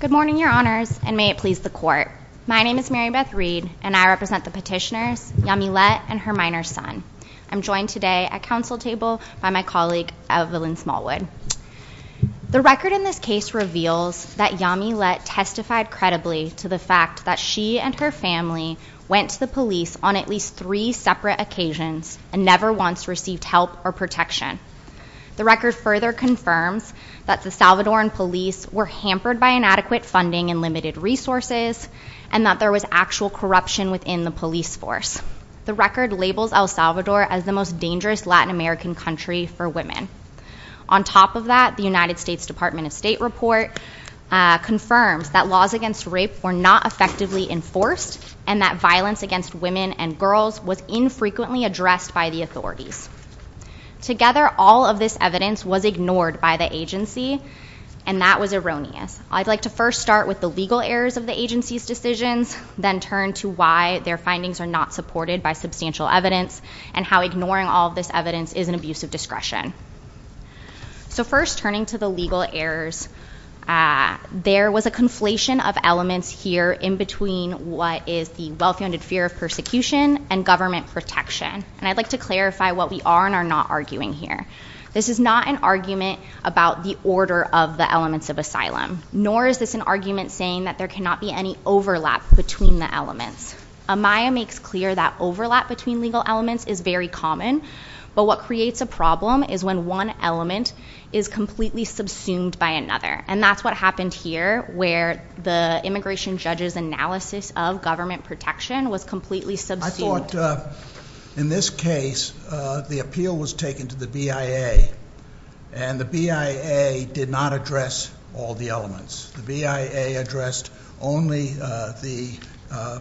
Good morning your honors and may it please the court. My name is Marybeth Reed and I represent the petitioners Yamilet and her minor son. I'm joined today at council table by my colleague Evelyn Smallwood. The record in this case reveals that Yamilet testified credibly to the fact that she and her family went to the police on at least three separate occasions and never once received help or protection. The record further confirms that the Salvadoran police were hampered by inadequate funding and limited resources and that there was actual corruption within the police force. The record labels El Salvador as the most dangerous Latin American country for women. On top of that the United States Department of State report confirms that laws against rape were not effectively enforced and that violence against women and girls was infrequently addressed by the authorities. Together all of this evidence was ignored by the agency and that was erroneous. I'd like to first start with the legal errors of the agency's decisions then turn to why their findings are not supported by substantial evidence and how ignoring all this evidence is an abuse of discretion. So first turning to the legal errors there was a conflation of elements here in between what is the well-founded fear of persecution and government protection and I'd like to clarify what we are and are not arguing here. This is not an argument about the order of the elements of asylum nor is this an argument saying that there cannot be any overlap between the elements. Amaya makes clear that overlap between legal elements is very common but what creates a problem is when one element is completely subsumed by another and that's what happened here where the immigration judge's analysis of government protection was completely subsumed. I thought in this case the appeal was taken to the BIA and the BIA did not address all the elements. The BIA addressed only the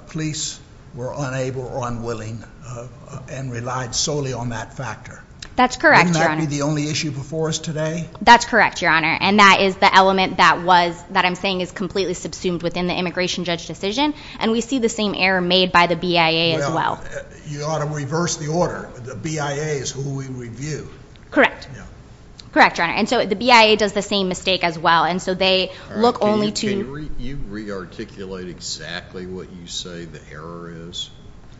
police were unable or unwilling and relied solely on that factor. That's correct your honor. Wouldn't that be the only issue before us today? That's correct your honor and that is the element that was that I'm saying is completely subsumed within the immigration judge decision and we see the same error made by the BIA as well. You ought to reverse the order. The BIA is who we review. Correct. Correct your honor and so the BIA does the same mistake as well and so they look only to... Can you re-articulate exactly what you say the error is?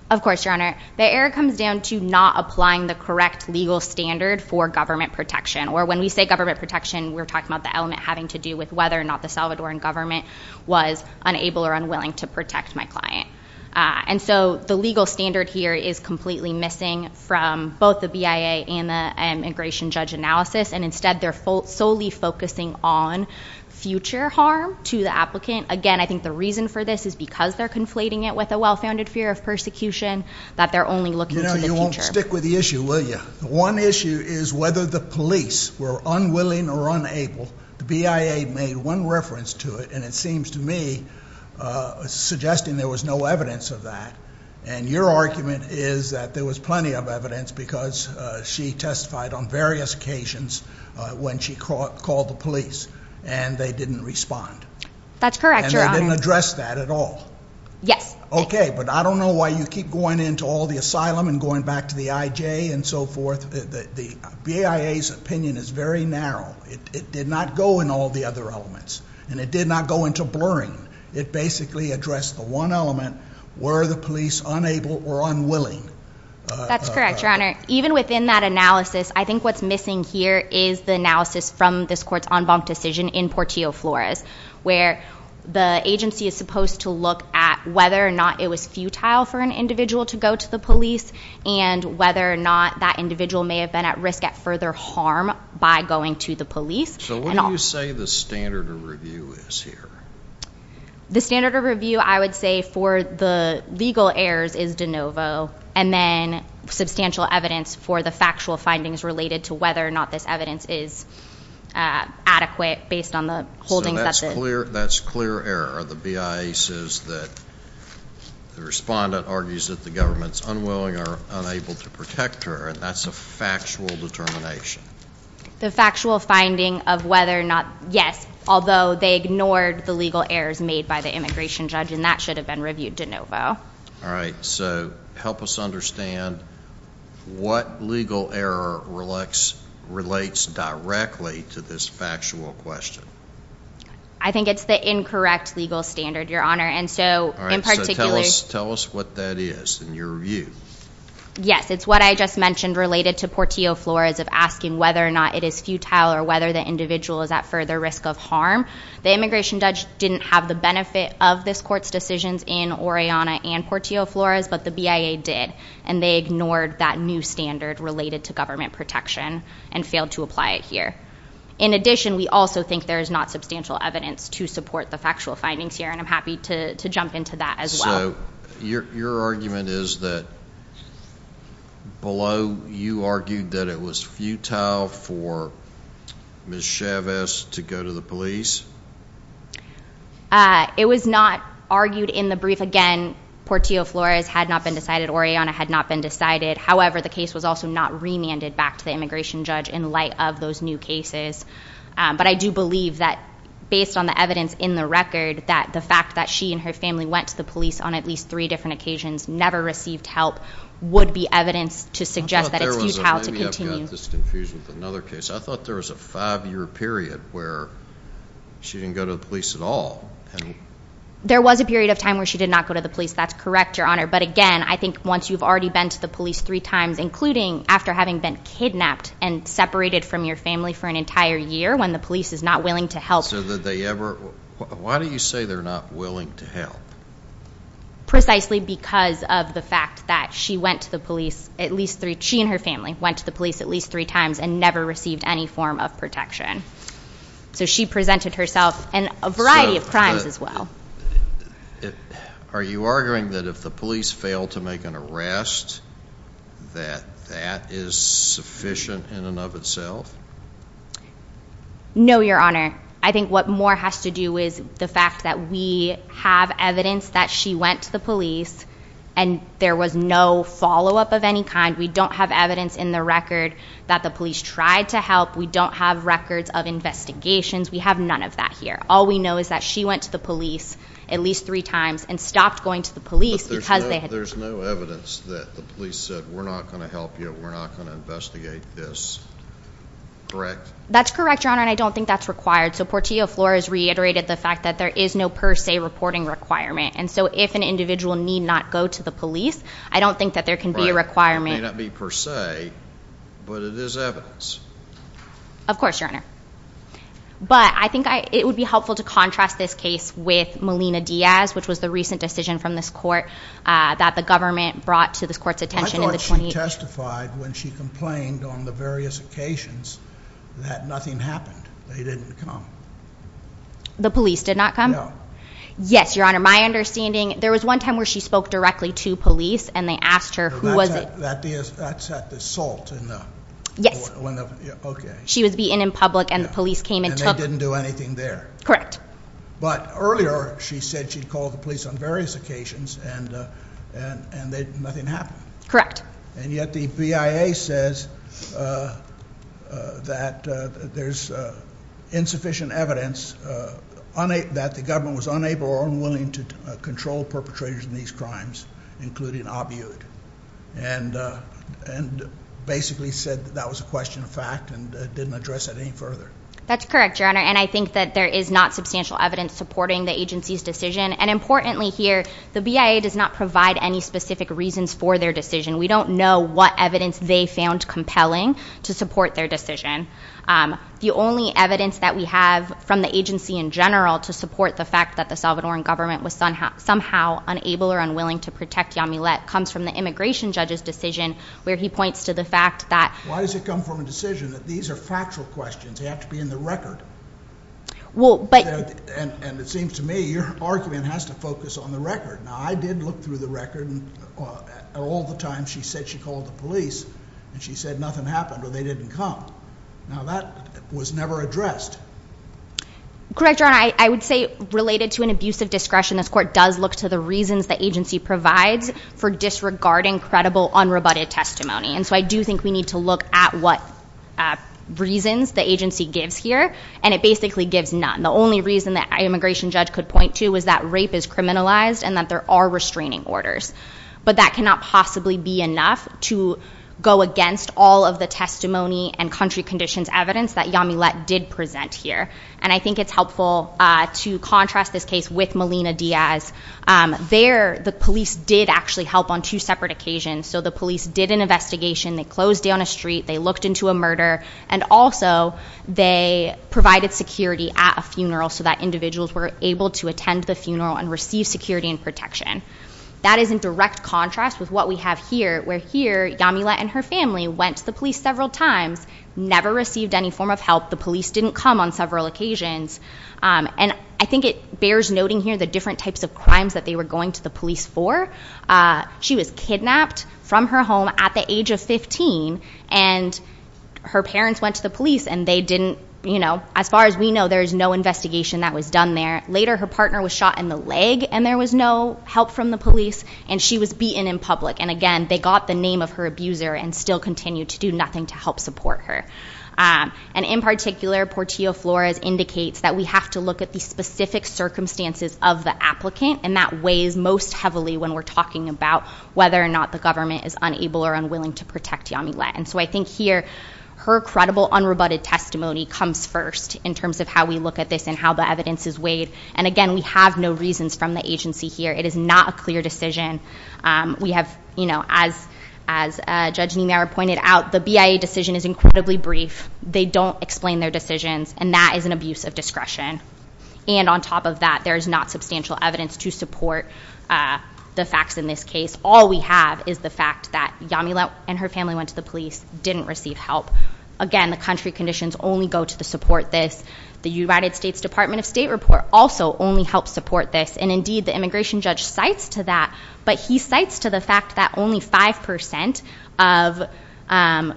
Of course your honor. The error comes down to not applying the correct legal standard for government protection or when we say government protection we're talking about the element having to do with whether or not the Salvadoran government was unable or unwilling to protect my client and so the legal standard here is completely missing from both the BIA and the immigration judge analysis and instead they're solely focusing on future harm to the applicant. Again I think the reason for this is because they're conflating it with a well-founded fear of persecution that they're only looking to the future. You won't stick with the one issue is whether the police were unwilling or unable. The BIA made one reference to it and it seems to me suggesting there was no evidence of that and your argument is that there was plenty of evidence because she testified on various occasions when she called the police and they didn't respond. That's correct your honor. And they didn't address that at all. Yes. Okay but I don't know why you keep going into all the asylum and going back to the IJ and so forth. The BIA's opinion is very narrow. It did not go in all the other elements and it did not go into blurring. It basically addressed the one element were the police unable or unwilling. That's correct your honor. Even within that analysis I think what's missing here is the analysis from this court's en banc decision in Portillo Flores where the agency is supposed to look at whether or not it was futile for an individual to go to the police and whether or not that individual may have been at risk at further harm by going to the police. So what do you say the standard of review is here? The standard of review I would say for the legal errors is de novo and then substantial evidence for the factual findings related to whether or not this evidence is adequate based on the holdings. So that's clear error. The BIA says that the respondent argues that the government's unwilling or unable to protect her and that's a factual determination. The factual finding of whether or not yes although they ignored the legal errors made by the immigration judge and that should have been reviewed de novo. All right so help us understand what legal error relates directly to this factual question. I think it's the incorrect legal standard your honor and so in particular. Tell us what that is in your view. Yes it's what I just mentioned related to Portillo Flores of asking whether or not it is futile or whether the individual is at further risk of harm. The immigration judge didn't have the benefit of this court's decisions in Oriana and Portillo Flores but the BIA did and they ignored that new standard related to government protection and failed to apply it here. In addition we also think there is not substantial evidence to support the factual findings here and I'm happy to to jump into that as well. So your argument is that below you argued that it was futile for Ms. Chavez to go to the police? It was not argued in the brief. Again Portillo Flores had not been decided. Oriana had not been decided. However the case was also not remanded back to the immigration judge in light of those new cases but I do believe that based on the evidence in the record that the fact that she and her family went to the police on at least three different occasions never received help would be evidence to suggest that it's futile to continue. I thought there was a five-year period where she didn't go to the police at all. There was a period of time where she did not go to the police. That's correct your honor but again I think once you've already been to the police three times including after having been kidnapped and separated from your family for an entire year when the police is not willing to help. So that they ever why do you say they're not willing to help? Precisely because of the fact that she went to the police at least three she and her family went to the police at least three times and never received any form of protection. So she presented herself and a variety of crimes as well. Are you arguing that if the police fail to make an arrest that that is sufficient in and of itself? No your honor I think what more has to do is the fact that we have evidence that she went to the police and there was no follow-up of any kind. We don't have evidence in the record that the police tried to help. We don't have records of investigations. We have none of that here. All we know is that she went to the police at least three times and stopped going to the police because there's no evidence that the police said we're not going to help you. We're not going to investigate this. Correct? That's correct your honor and I don't think that's required. So Portillo Flores reiterated the fact that there is no per se reporting requirement and so if an individual need not go to the police I don't think that there can be a requirement. May not be per se but it is evidence. Of course your honor but I think it would be helpful to contrast this case with Melina Diaz which was the recent decision from this court that the government brought to this court's attention. I thought she testified when she complained on the various occasions that nothing happened. They didn't come. The police did not come? No. Yes your honor my understanding there was one time where she spoke directly to police and they asked her who was it. That's at the salt? Yes. Okay. She was being in public and the police came and took. And they didn't do anything there? Correct. But earlier she said she'd called the police on various occasions and nothing happened? Correct. And yet the BIA says that there's insufficient evidence that the government was unable or unwilling to control perpetrators in these crimes including Abiod and basically said that was a question of fact and didn't address it any further. That's correct your honor and I think that there is not substantial evidence supporting the agency's decision and importantly here the BIA does not provide any specific reasons for their decision. We don't know what evidence they found compelling to support their decision. The only evidence that we have from the agency in general to support the fact that the Salvadoran government was somehow unable or unwilling to protect Yamilet comes from the immigration judge's decision where he points to the fact that. Why does it come from a decision that these are factual questions they have to be in the record? Well but. And it seems to me your argument has to focus on the record. Now I did look through the record all the time she said she called the police and she said nothing happened or they didn't come. Now that was never addressed. Correct your honor I would say related to an abusive discretion this court does look to the reasons the agency provides for disregarding credible unrebutted testimony and so I do think we need to look at what reasons the agency gives here and it basically gives none. The only reason that an immigration judge could point to is that rape is criminalized and that there are restraining orders but that cannot possibly be enough to go against all of the testimony and country conditions evidence that Yamilet did present here and I think it's helpful to contrast this case with Melina Diaz. There the police did actually help on two separate occasions so the police did an investigation they closed down a street they looked into a murder and also they provided security at a funeral so that individuals were able to attend the funeral and receive security and protection. That is in direct contrast with what we have here where here Yamilet and her family went to the police several times never received any form of help the police didn't come on several occasions and I think it bears noting here the different types of crimes that they were going to the police for. She was kidnapped from her home at the age of 15 and her parents went to the police and they didn't you know as far as we know there is no investigation that was done there. Later her partner was shot in the leg and there was no help from the police and she was beaten in public and again they got the name of her abuser and still continue to do nothing to help support her. And in particular Portillo-Flores indicates that we have to look at the specific circumstances of the applicant and that weighs most heavily when we're talking about whether or not the government is unable or unwilling to protect Yamilet and so I think here her credible unrebutted testimony comes first in terms of how we look at this and how the evidence is weighed and again we have no reasons from the agency here it is not a clear decision. We have you know as Judge Niemeyer pointed out the BIA decision is incredibly brief they don't explain their decisions and that is an abuse of discretion and on top of that there is not substantial evidence to support the facts in this case. All we have is the fact that Yamilet and her family went to the police didn't receive help. Again the country conditions only go to the support this. The United States Department of State report also only helps support this and indeed the immigration judge cites to that but he cites to the fact that only five percent of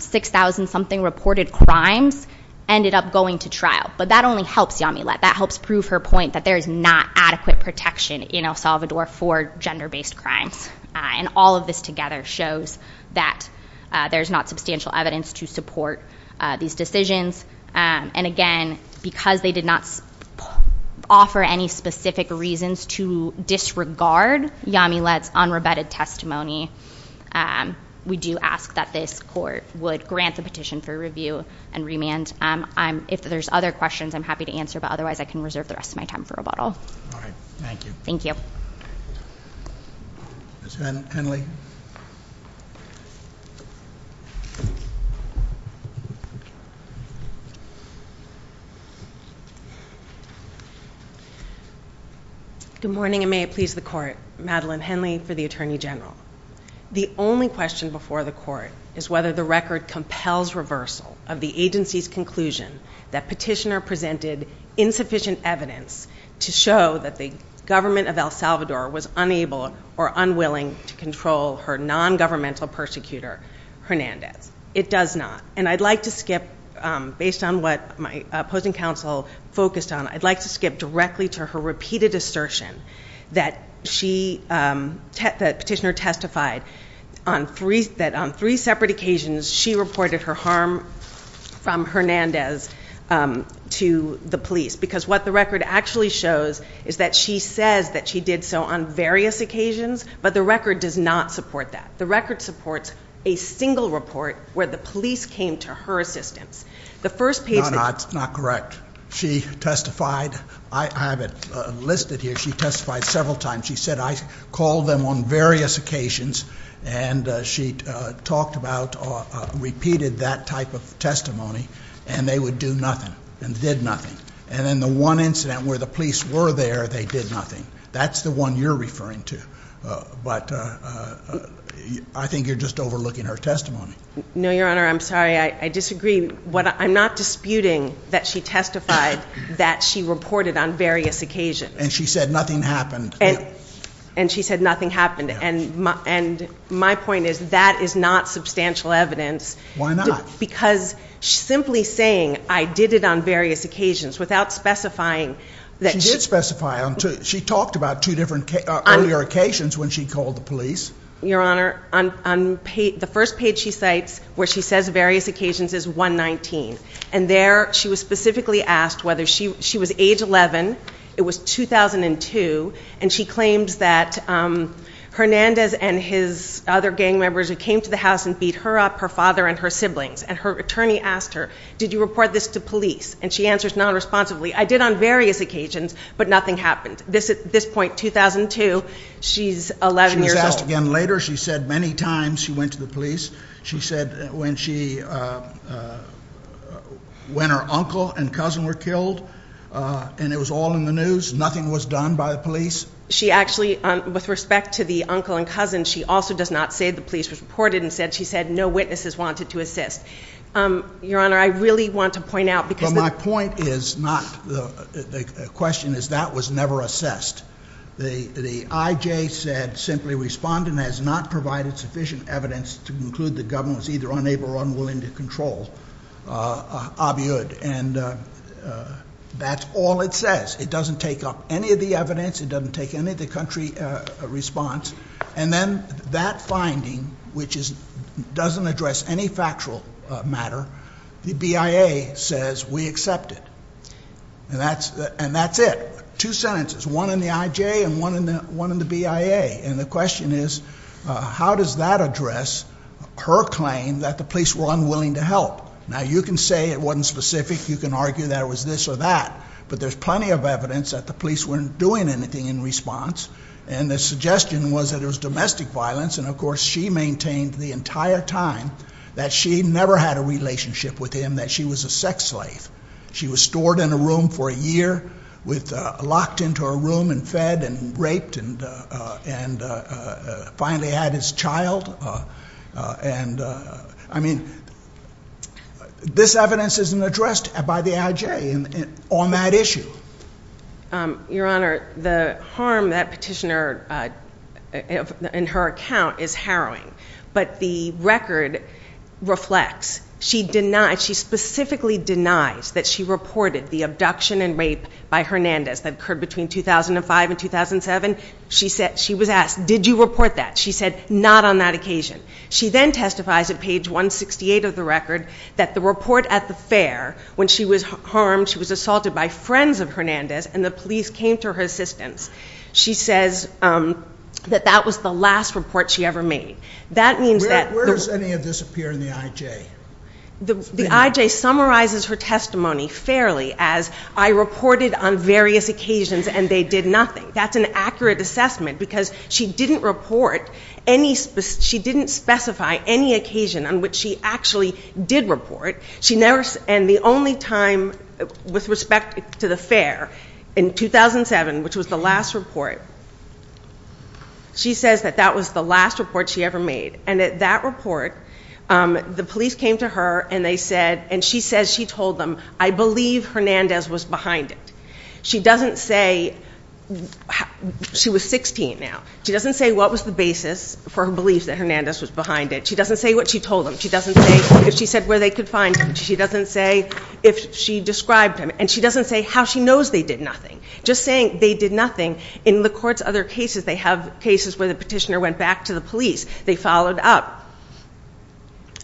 six thousand something reported crimes ended up going to trial but that only helps Yamilet that helps prove her point that there is not adequate protection in El Salvador for gender-based crimes and all of this together shows that there's not substantial evidence to support these decisions and again because they did not offer any specific reasons to disregard Yamilet's unrebutted testimony we do ask that this court would grant the petition for review and remand. If there's other questions I'm happy to answer but otherwise I can reserve the rest of time for rebuttal. All right thank you. Thank you. Ms. Henley. Good morning and may it please the court. Madeline Henley for the Attorney General. The only question before the court is whether the record compels reversal of the agency's that petitioner presented insufficient evidence to show that the government of El Salvador was unable or unwilling to control her non-governmental persecutor Hernandez. It does not and I'd like to skip based on what my opposing counsel focused on I'd like to skip directly to her repeated assertion that she that petitioner testified on three that on three separate occasions she reported her harm from Hernandez to the police because what the record actually shows is that she says that she did so on various occasions but the record does not support that. The record supports a single report where the police came to her assistance. The first page that's not correct she testified I have it listed here she testified several times she said I called them on various occasions and she talked about repeated that type of testimony and they would do nothing and did nothing and in the one incident where the police were there they did nothing that's the one you're referring to but I think you're just overlooking her testimony. No your honor I'm sorry I disagree what I'm not disputing that she testified that she reported on various occasions. And she said nothing happened. And she said nothing happened and my and my point is that is not substantial evidence. Why not? Because simply saying I did it on various occasions without specifying that. She did specify on two she talked about two different earlier occasions when she called the police. Your honor on the first page she cites where she says various occasions is 119 and there she was specifically asked whether she she was age 11 it was 2002 and she claims that Hernandez and his other gang members who came to the house and beat her up her father and her siblings and her attorney asked her did you report this to police and she answers non-responsibly I did on various occasions but nothing happened this at this point 2002 she's 11 years old. She was when her uncle and cousin were killed and it was all in the news nothing was done by the police. She actually on with respect to the uncle and cousin she also does not say the police was reported and said she said no witnesses wanted to assist. Your honor I really want to point out because my point is not the the question is that was never assessed. The the IJ said simply respondent has not provided sufficient evidence to conclude the government was either unable or uncontrollable and that's all it says it doesn't take up any of the evidence it doesn't take any of the country response and then that finding which is doesn't address any factual matter the BIA says we accept it and that's and that's it two sentences one in the IJ and one in the one in Now you can say it wasn't specific you can argue that it was this or that but there's plenty of evidence that the police weren't doing anything in response and the suggestion was that it was domestic violence and of course she maintained the entire time that she never had a relationship with him that she was a sex slave. She was stored in a room for a year with locked into a room and and raped and and finally had his child and I mean this evidence isn't addressed by the IJ on that issue. Your honor the harm that petitioner in her account is harrowing but the record reflects she denied she specifically denies that she reported the abduction and rape by Hernandez that occurred between 2005 and 2007. She said she was asked did you report that she said not on that occasion she then testifies at page 168 of the record that the report at the fair when she was harmed she was assaulted by friends of Hernandez and the police came to her assistance she says that that was the last report she ever made that means that where does any of this appear in the IJ? The IJ summarizes her testimony fairly as I reported on various occasions and they did nothing that's an accurate assessment because she didn't report any she didn't specify any occasion on which she actually did report she never and the only time with respect to the fair in 2007 which was the last report she says that that was the last report she ever made and at that report the police came to her and they said and she says she told them I believe Hernandez was behind it she doesn't say she was 16 now she doesn't say what was the basis for her beliefs that Hernandez was behind it she doesn't say what she told them she doesn't say if she said where they could find him she doesn't say if she described him and she doesn't say how she knows they did nothing just saying they did nothing in the court's other cases they have cases where the petitioner went back to the police they followed up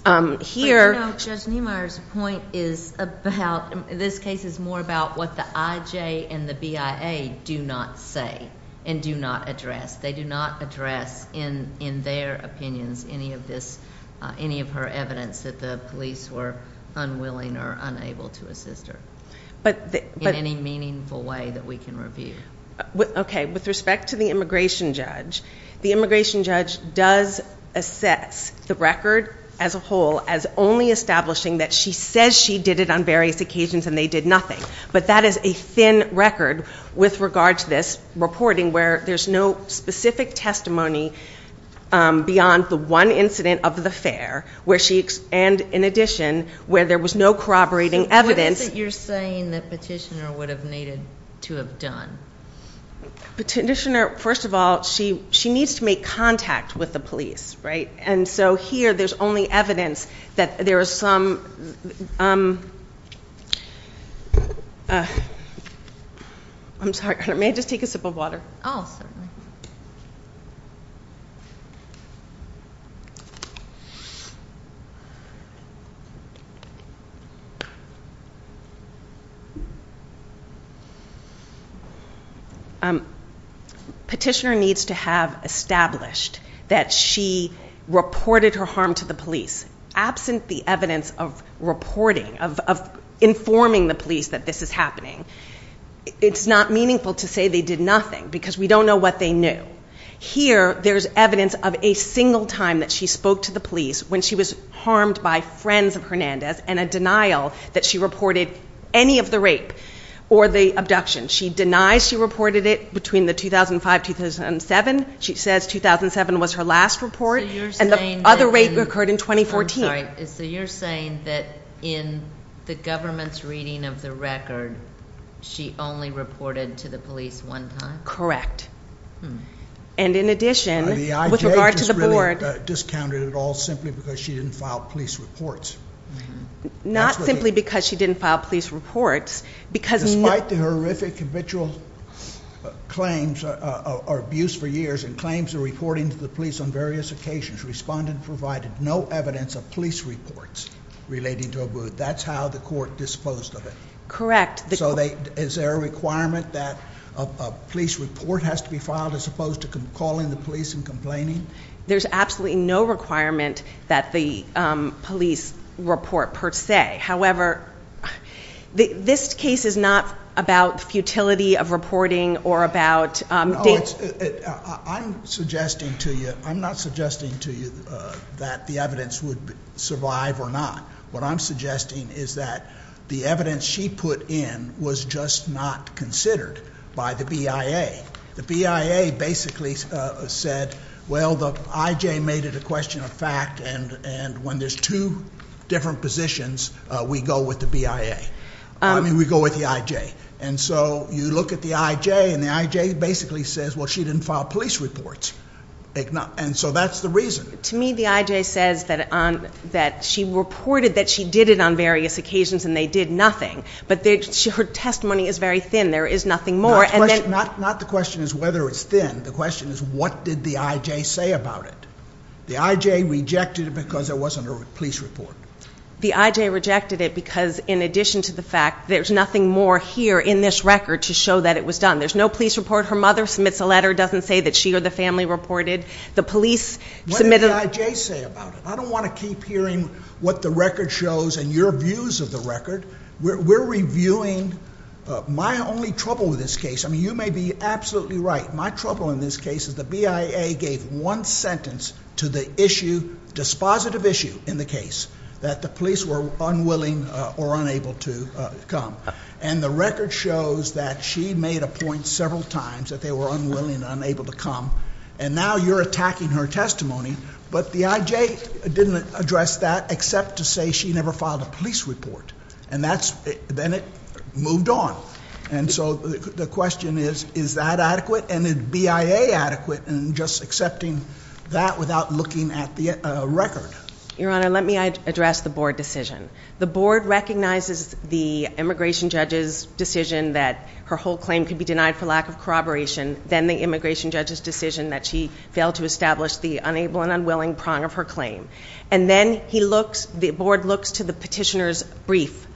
um here judge Niemeyer's point is about this case is more about what the IJ and the BIA do not say and do not address they do not address in in their opinions any of this uh any of her evidence that the police were unwilling or unable to assist her but in any meaningful way that we can review okay with respect to the immigration judge the immigration judge does assess the record as a whole as only establishing that she says she did it on various occasions and they did nothing but that is a thin record with regard to this reporting where there's no specific testimony um beyond the one incident of the fair where she and in addition where there was no corroborating evidence you're saying that petitioner would have to have done petitioner first of all she she needs to make contact with the police right and so here there's only evidence that there is some um uh i'm sorry may i just take a sip of water oh certainly um petitioner needs to have established that she reported her harm to the police absent the evidence of reporting of of informing the police that this is happening it's not meaningful to say they did nothing because we don't know what they knew here there's evidence of a single time that she spoke to the police when she was harmed by friends of hernandez and a denial that she reported any of the rape or the abduction she denies she reported it between the 2005 2007 she says 2007 was her last report and the other rate occurred in 2014 sorry so you're saying that in the government's reading of the record she only reported to the police one time correct and in addition with regard to the board discounted it all simply because she didn't file police reports not simply because she didn't file police reports because despite the horrific habitual claims or abuse for years and claims of reporting to the police on various occasions respondent provided no evidence of police reports relating to a booth that's how the court disposed of it correct so they is there a requirement that a police report has to be filed as opposed to calling the police and complaining there's absolutely no requirement that the police report per se however this case is not about futility of reporting or about i'm suggesting to you i'm not suggesting to you that the evidence would survive or not what i'm suggesting is that the evidence she put in was just not considered by the bia the bia basically said well the ij made it a question of fact and and when there's two different positions we go with the bia i mean we go with the ij and so you look at the ij and the ij basically says well she didn't file police reports and so that's the reason to me the ij says that on that she reported that she did it on various occasions and they did nothing but their testimony is very thin there is nothing more and then not not the question is whether it's thin the question is what did the ij say about it the ij rejected it because there wasn't a police report the ij rejected it because in addition to the fact there's nothing more here in this record to show that it was done there's no police report her mother submits a letter doesn't say that she or the family reported the police submitted ij say about it i don't want to keep hearing what the record shows and your views of the record we're reviewing my only trouble with this case i mean you may be absolutely right my trouble in this case is the bia gave one sentence to the issue dispositive issue in the case that the police were unwilling or unable to come and the record shows that she made a point several times that they were unwilling unable to come and now you're attacking her testimony but the ij didn't address that except to say she never filed a police report and that's then it moved on and so the question is is that adequate and bia adequate and just accepting that without looking at the record your honor let me address the board decision the board recognizes the immigration judge's decision that her whole claim could be denied for lack of then the immigration judge's decision that she failed to establish the unable and unwilling prong of her claim and then he looks the board looks to the petitioner's brief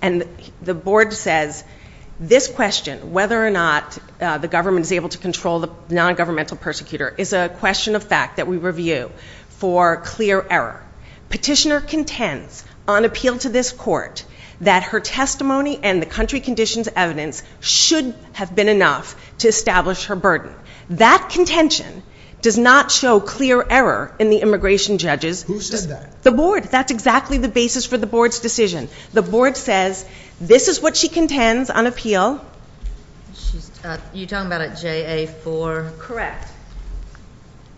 and the board says this question whether or not uh the government is able to control the non-governmental persecutor is a question of fact that we review for clear error petitioner contends on appeal to this court that her testimony and the country conditions evidence should have been enough to establish her burden that contention does not show clear error in the immigration judges who said that the board that's exactly the basis for the board's decision the board says this is what she contends on appeal she's uh you're talking about at ja4 correct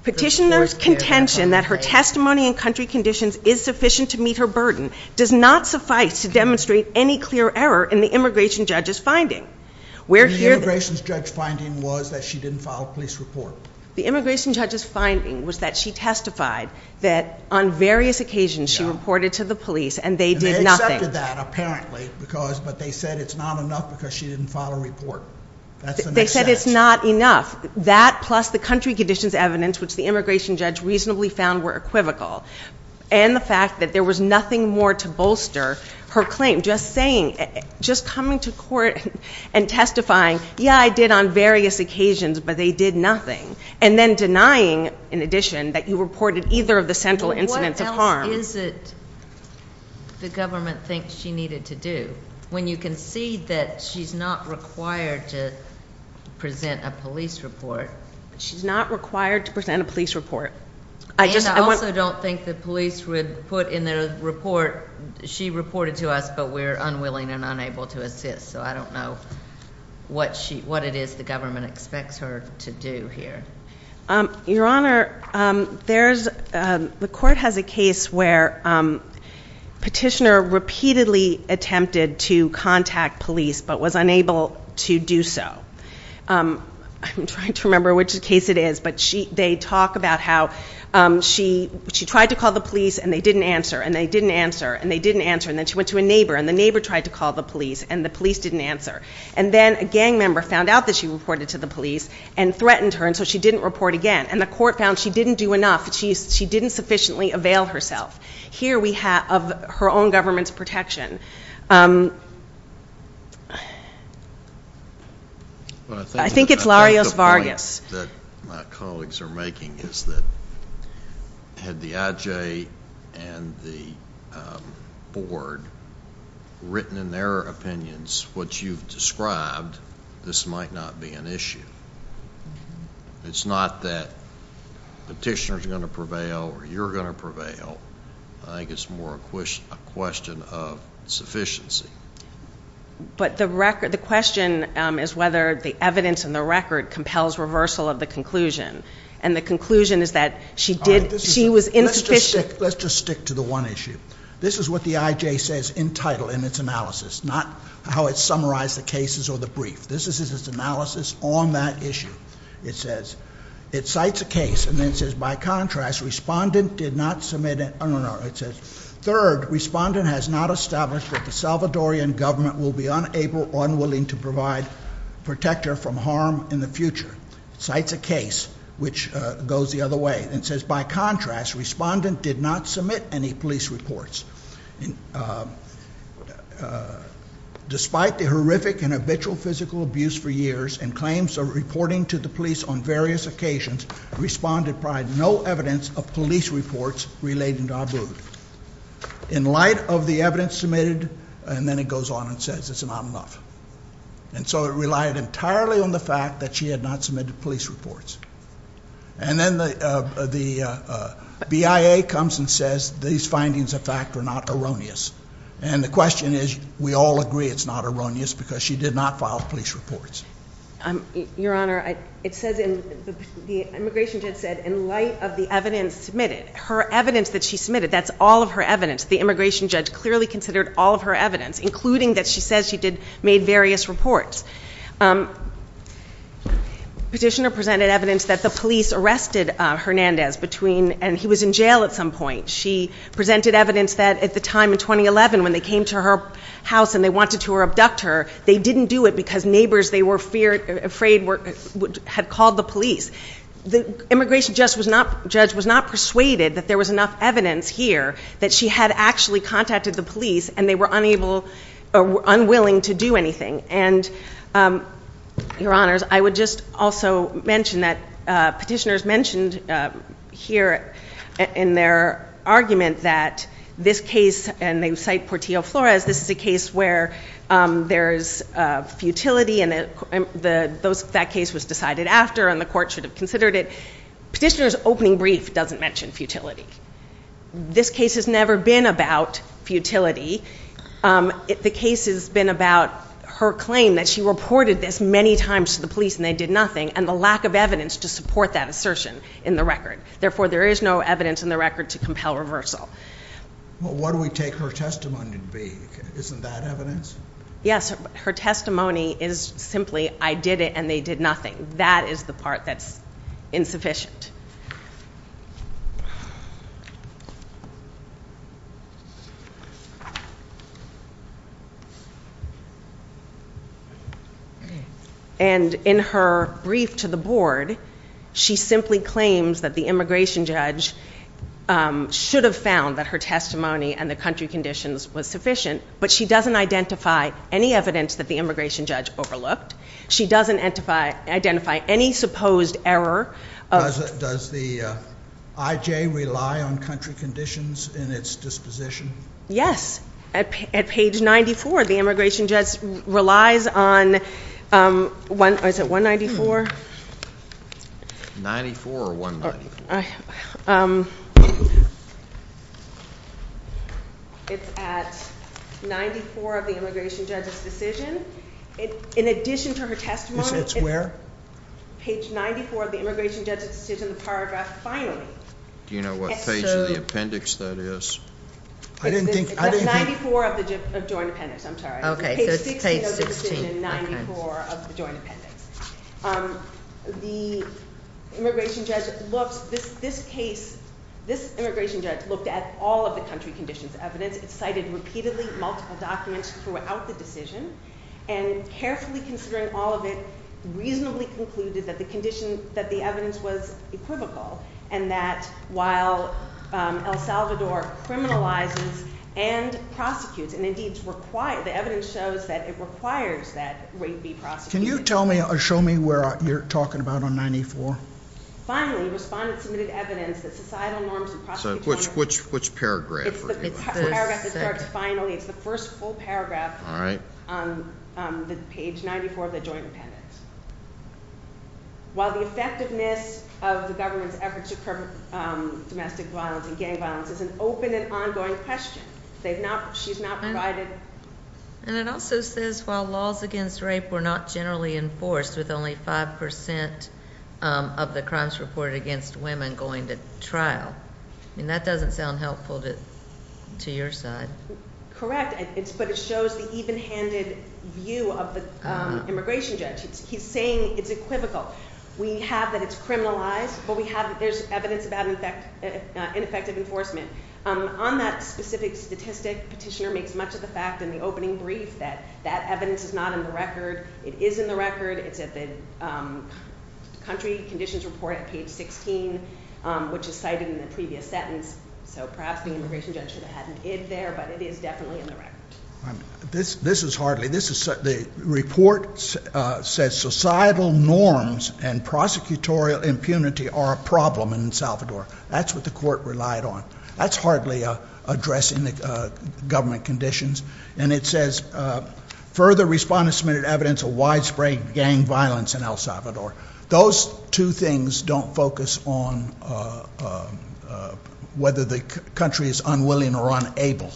petitioner's contention that her testimony and country conditions is sufficient to meet her burden does not suffice to demonstrate any clear error in the immigration judge's finding where the immigration judge's finding was that she didn't file a police report the immigration judge's finding was that she testified that on various occasions she reported to the police and they did nothing that apparently because but they said it's not enough because she didn't file a report they said it's not enough that plus the country conditions evidence which the immigration judge reasonably found were equivocal and the fact that there was nothing more to bolster her claim just saying just coming to court and testifying yeah i did on various occasions but they did nothing and then denying in addition that you reported either of the central incidents of harm is it the government thinks she needed to do when you can see that she's not required to present a police report she's not required to present a police report i just i also don't think the police would put in the report she reported to us but we're unwilling and unable to assist so i don't know what she what it is the government expects her to do here um your honor um there's um the court has a case where um petitioner repeatedly attempted to contact police but was unable to do so um i'm trying remember which case it is but she they talk about how um she she tried to call the police and they didn't answer and they didn't answer and they didn't answer and then she went to a neighbor and the neighbor tried to call the police and the police didn't answer and then a gang member found out that she reported to the police and threatened her and so she didn't report again and the court found she didn't do enough she she didn't sufficiently avail herself here we have of her own government's protection um i think it's larios vargas that my colleagues are making is that had the ij and the board written in their opinions what you've described this might not be an issue it's not that petitioners are going to prevail or you're going to prevail i think it's more a question a question of sufficiency but the record the question um is whether the evidence in the record compels reversal of the conclusion and the conclusion is that she did she was insufficient let's just stick to the one issue this is what the ij says in title in its analysis not how it summarized the cases or the brief this is its analysis on that issue it says it cites a case and then says by contrast respondent did not submit it no no no it says third respondent has not established that the salvadorian government will be unable unwilling to provide protector from harm in the future cites a case which goes the other way and says by contrast respondent did not submit any police reports and uh despite the horrific and habitual physical abuse for years and claims of reporting to the police on various occasions responded pride no evidence of police reports relating to abu in light of the evidence submitted and then it goes on and says it's not enough and so it relied entirely on the fact that she had not submitted police reports and then the the bia comes and says these findings of fact are not erroneous and the question is we all agree it's not erroneous because she did not file police reports um your honor it says in the immigration judge said in light of the evidence submitted her evidence that she submitted that's all of her evidence the immigration judge clearly considered all of her evidence including that she says she did made various reports um petitioner presented evidence that the police arrested uh hernandez between and he was in jail at some point she presented evidence that at the time in 2011 when they came to her house and they wanted to abduct her they didn't do it because neighbors they were feared afraid were had called the police the immigration just was not judge was not persuaded that there was enough evidence here that she had actually contacted the police and they were unable or unwilling to do anything and um your honors i would just also mention that uh petitioners mentioned uh here in their argument that this case and they cite portillo flores this is a case where um there's uh futility and the those that case was decided after and the court should have considered it petitioner's opening brief doesn't mention futility this case has never been about futility um the case has been about her claim that she reported this many times to the police and did nothing and the lack of evidence to support that assertion in the record therefore there is no evidence in the record to compel reversal well what do we take her testimony to be isn't that evidence yes her testimony is simply i did it and they did nothing that is the part that's insufficient and in her brief to the board she simply claims that the immigration judge um should have found that her testimony and the country conditions was sufficient but she doesn't identify any evidence that the immigration judge overlooked she doesn't identify identify any supposed error does it does the uh ij rely on country conditions in its disposition yes at at page 94 the immigration judge relies on um one is it 194 94 or 194 it's at 94 of the immigration judge's decision it in addition to her testimony it's where page 94 of the immigration judge's decision the paragraph finally do you know what page of the appendix that is i didn't think 94 of the joint appendix i'm sorry okay so it's page 16 the immigration judge looks this this case this immigration judge looked at all of the country conditions evidence it cited repeatedly multiple documents throughout the decision and carefully considering all of it reasonably concluded that the condition that the evidence was equivocal and that while el salvador criminalizes and prosecutes and indeed require the evidence shows that it requires that rape be prosecuted can you tell me or show me where you're talking about on 94 finally respondent submitted evidence that societal norms which which paragraph it's the paragraph that starts finally it's the first full paragraph all right on the page 94 of the joint appendix while the effectiveness of the government's efforts to domestic violence and gang violence is an open and ongoing question they've not she's not provided and it also says while laws against rape were not generally enforced with only five percent of the crimes reported against women going to trial and that doesn't sound helpful to to your side correct it's but it shows the even-handed view of the immigration judge he's saying it's equivocal we have that it's criminalized but we have there's evidence about in fact ineffective enforcement um on that specific statistic petitioner makes much of the fact in the opening brief that that evidence is not in the record it is in the record it's at the country conditions report at page 16 which is cited in the previous sentence so perhaps the immigration judge should have had an id there but it is definitely in the record this this is hardly this is the report uh says societal norms and prosecutorial impunity are a problem in salvador that's what the court relied on that's hardly uh addressing the uh government conditions and it says uh further respondents submitted evidence of widespread gang violence in el salvador those two things don't focus on uh uh whether the country is unwilling or unable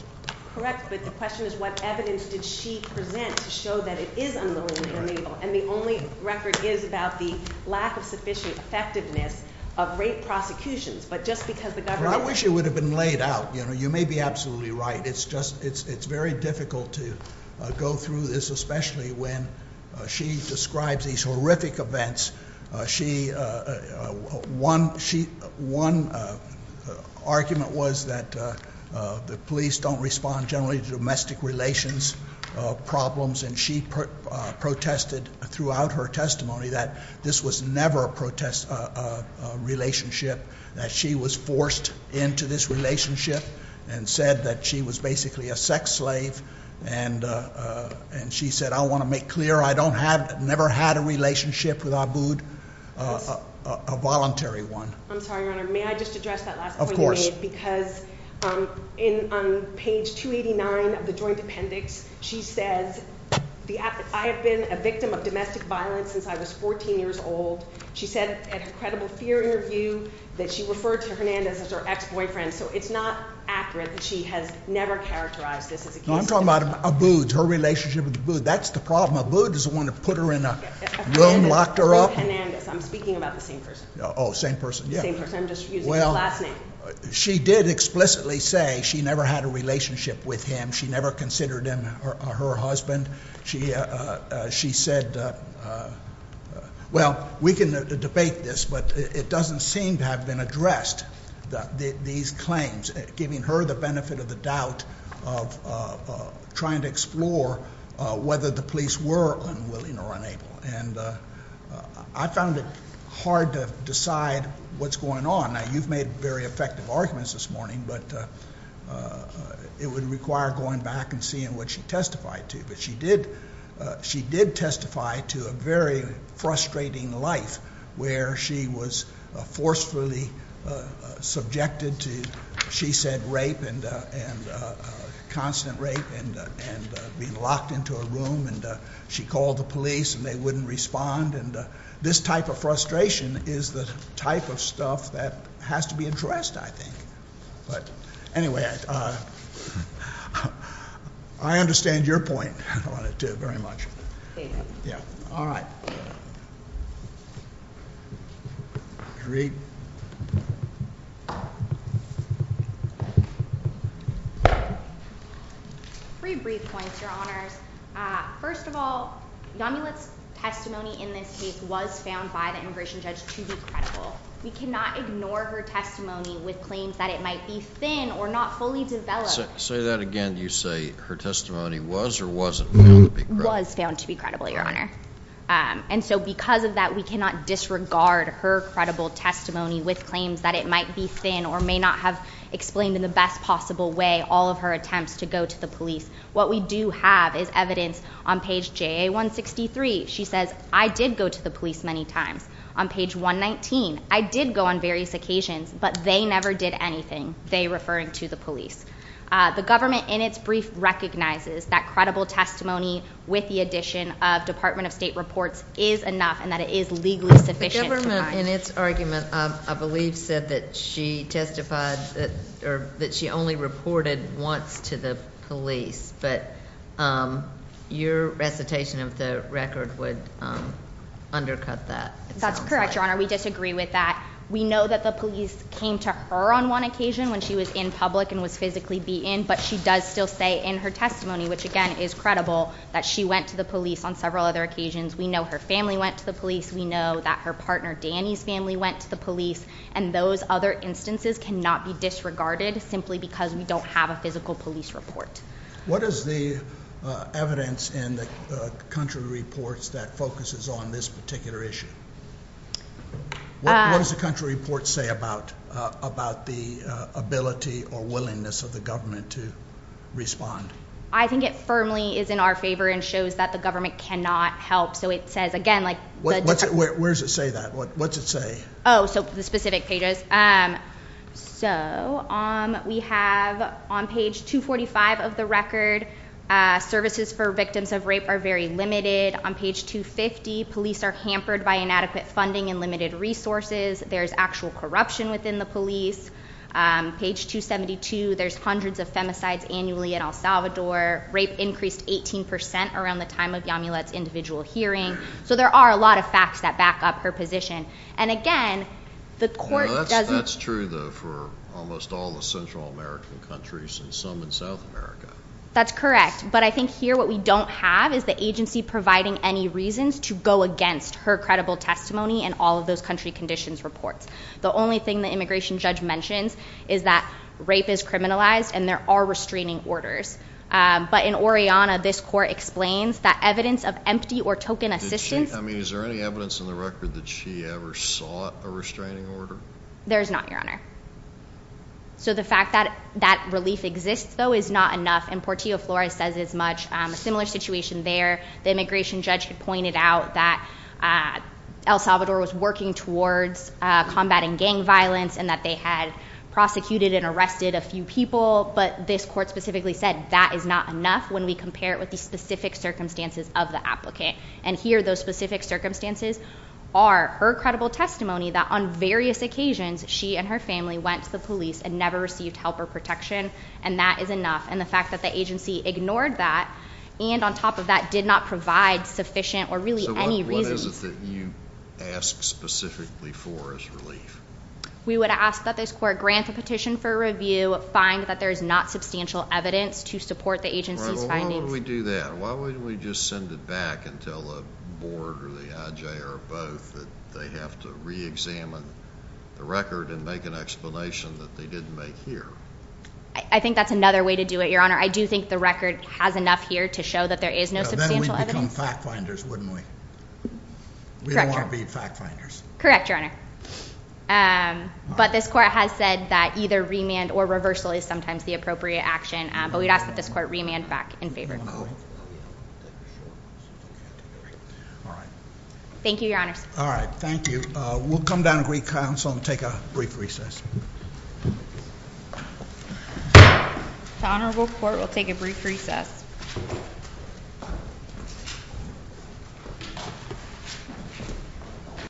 correct but the question is what evidence did she present to show that it is unwillingly unable and the only record is about the lack of sufficient effectiveness of rape prosecutions but just because the government i wish it would have been laid out you know you may be absolutely right it's just it's very difficult to go through this especially when she describes these horrific events she one she one argument was that the police don't respond generally to domestic relations problems and she protested throughout her testimony that this was never a protest a relationship that she was forced into this relationship and said that she was basically a sex slave and uh and she said i want to make clear i don't have never had a relationship with abud uh a voluntary one i'm sorry your honor may i just address that last of course because um in on page 289 of the joint appendix she says the i have been a victim of domestic violence since i was 14 years old she said at her credible fear interview that she referred to hernandez as her ex-boyfriend so it's not accurate that she has never characterized this as a case i'm talking about abud her relationship with abud that's the problem abud is the one that put her in a room locked her up i'm speaking about the same person oh same person yeah i'm just using the last name she did explicitly say she never had a relationship with him she never considered him her husband she uh she said uh uh well we can debate this but it doesn't seem to have been addressed that these claims giving her the benefit of the doubt of uh trying to explore uh whether the police were unwilling or unable and uh i found it hard to decide what's going on now you've made very effective arguments this morning but uh it would require going back and seeing what she testified to but she did uh she did testify to a very frustrating life where she was forcefully subjected to she said rape and uh and uh constant rape and and being locked into a room and she called the police and they wouldn't respond and this type of frustration is the type of stuff that has to be addressed i think but anyway uh i understand your point on it too very much yeah all right three brief points your honors uh first of all yamilet's testimony in this case was found by the with claims that it might be thin or not fully developed say that again you say her testimony was or wasn't found to be credible your honor um and so because of that we cannot disregard her credible testimony with claims that it might be thin or may not have explained in the best possible way all of her attempts to go to the police what we do have is evidence on page ja163 she says i did go to the police many times on page 119 i did go on various occasions but they never did anything they referring to the police uh the government in its brief recognizes that credible testimony with the addition of department of state reports is enough and that it is legally sufficient the government in its argument i believe said that she testified that or that only reported once to the police but um your recitation of the record would um undercut that that's correct your honor we disagree with that we know that the police came to her on one occasion when she was in public and was physically beaten but she does still say in her testimony which again is credible that she went to the police on several other occasions we know her family went to the police we know that her partner danny's family went to the police and those other instances cannot be disregarded simply because we don't have a physical police report what is the evidence in the country reports that focuses on this particular issue what does the country report say about about the ability or willingness of the government to respond i think it firmly is in our favor and shows that the government cannot help so it says like what's it where's it say that what's it say oh so the specific pages um so um we have on page 245 of the record uh services for victims of rape are very limited on page 250 police are hampered by inadequate funding and limited resources there's actual corruption within the police um page 272 there's hundreds of femicides annually in el salvador rape increased 18 percent around the time of yamulet's individual hearing so there are a lot of facts that back up her position and again the court that's true though for almost all the central american countries and some in south america that's correct but i think here what we don't have is the agency providing any reasons to go against her credible testimony and all of those country conditions reports the only thing the immigration judge mentions is that rape is criminalized and there are restraining orders um but in oreana this court explains that evidence of empty or token assistance i mean is there any evidence in the record that she ever sought a restraining order there's not your honor so the fact that that relief exists though is not enough and portillo flores says as much a similar situation there the immigration judge had pointed out that uh el salvador was working towards uh combating gang violence and that they had prosecuted and arrested a few people but this court specifically said that is not enough when we compare it with the specific circumstances of the applicant and here those specific circumstances are her credible testimony that on various occasions she and her family went to the police and never received help or protection and that is enough and the fact that the agency ignored that and on top of that did not provide sufficient or really any reason what is it that you ask specifically for is relief we would ask that this court grant the petition for review find that there is not substantial evidence to support the agency's findings we do that why wouldn't we just send it back and tell the board or the ij or both that they have to re-examine the record and make an explanation that they didn't make here i think that's another way to do it your honor i do think the record has enough here to show that there is no substantial evidence wouldn't we we don't want to be fact finders correct your honor um but this court has said that either remand or reversal is sometimes the appropriate action but we'd ask that this court remand back in favor all right thank you your honors all right thank you uh we'll come down to council and take a brief recess the honorable court will take a brief recess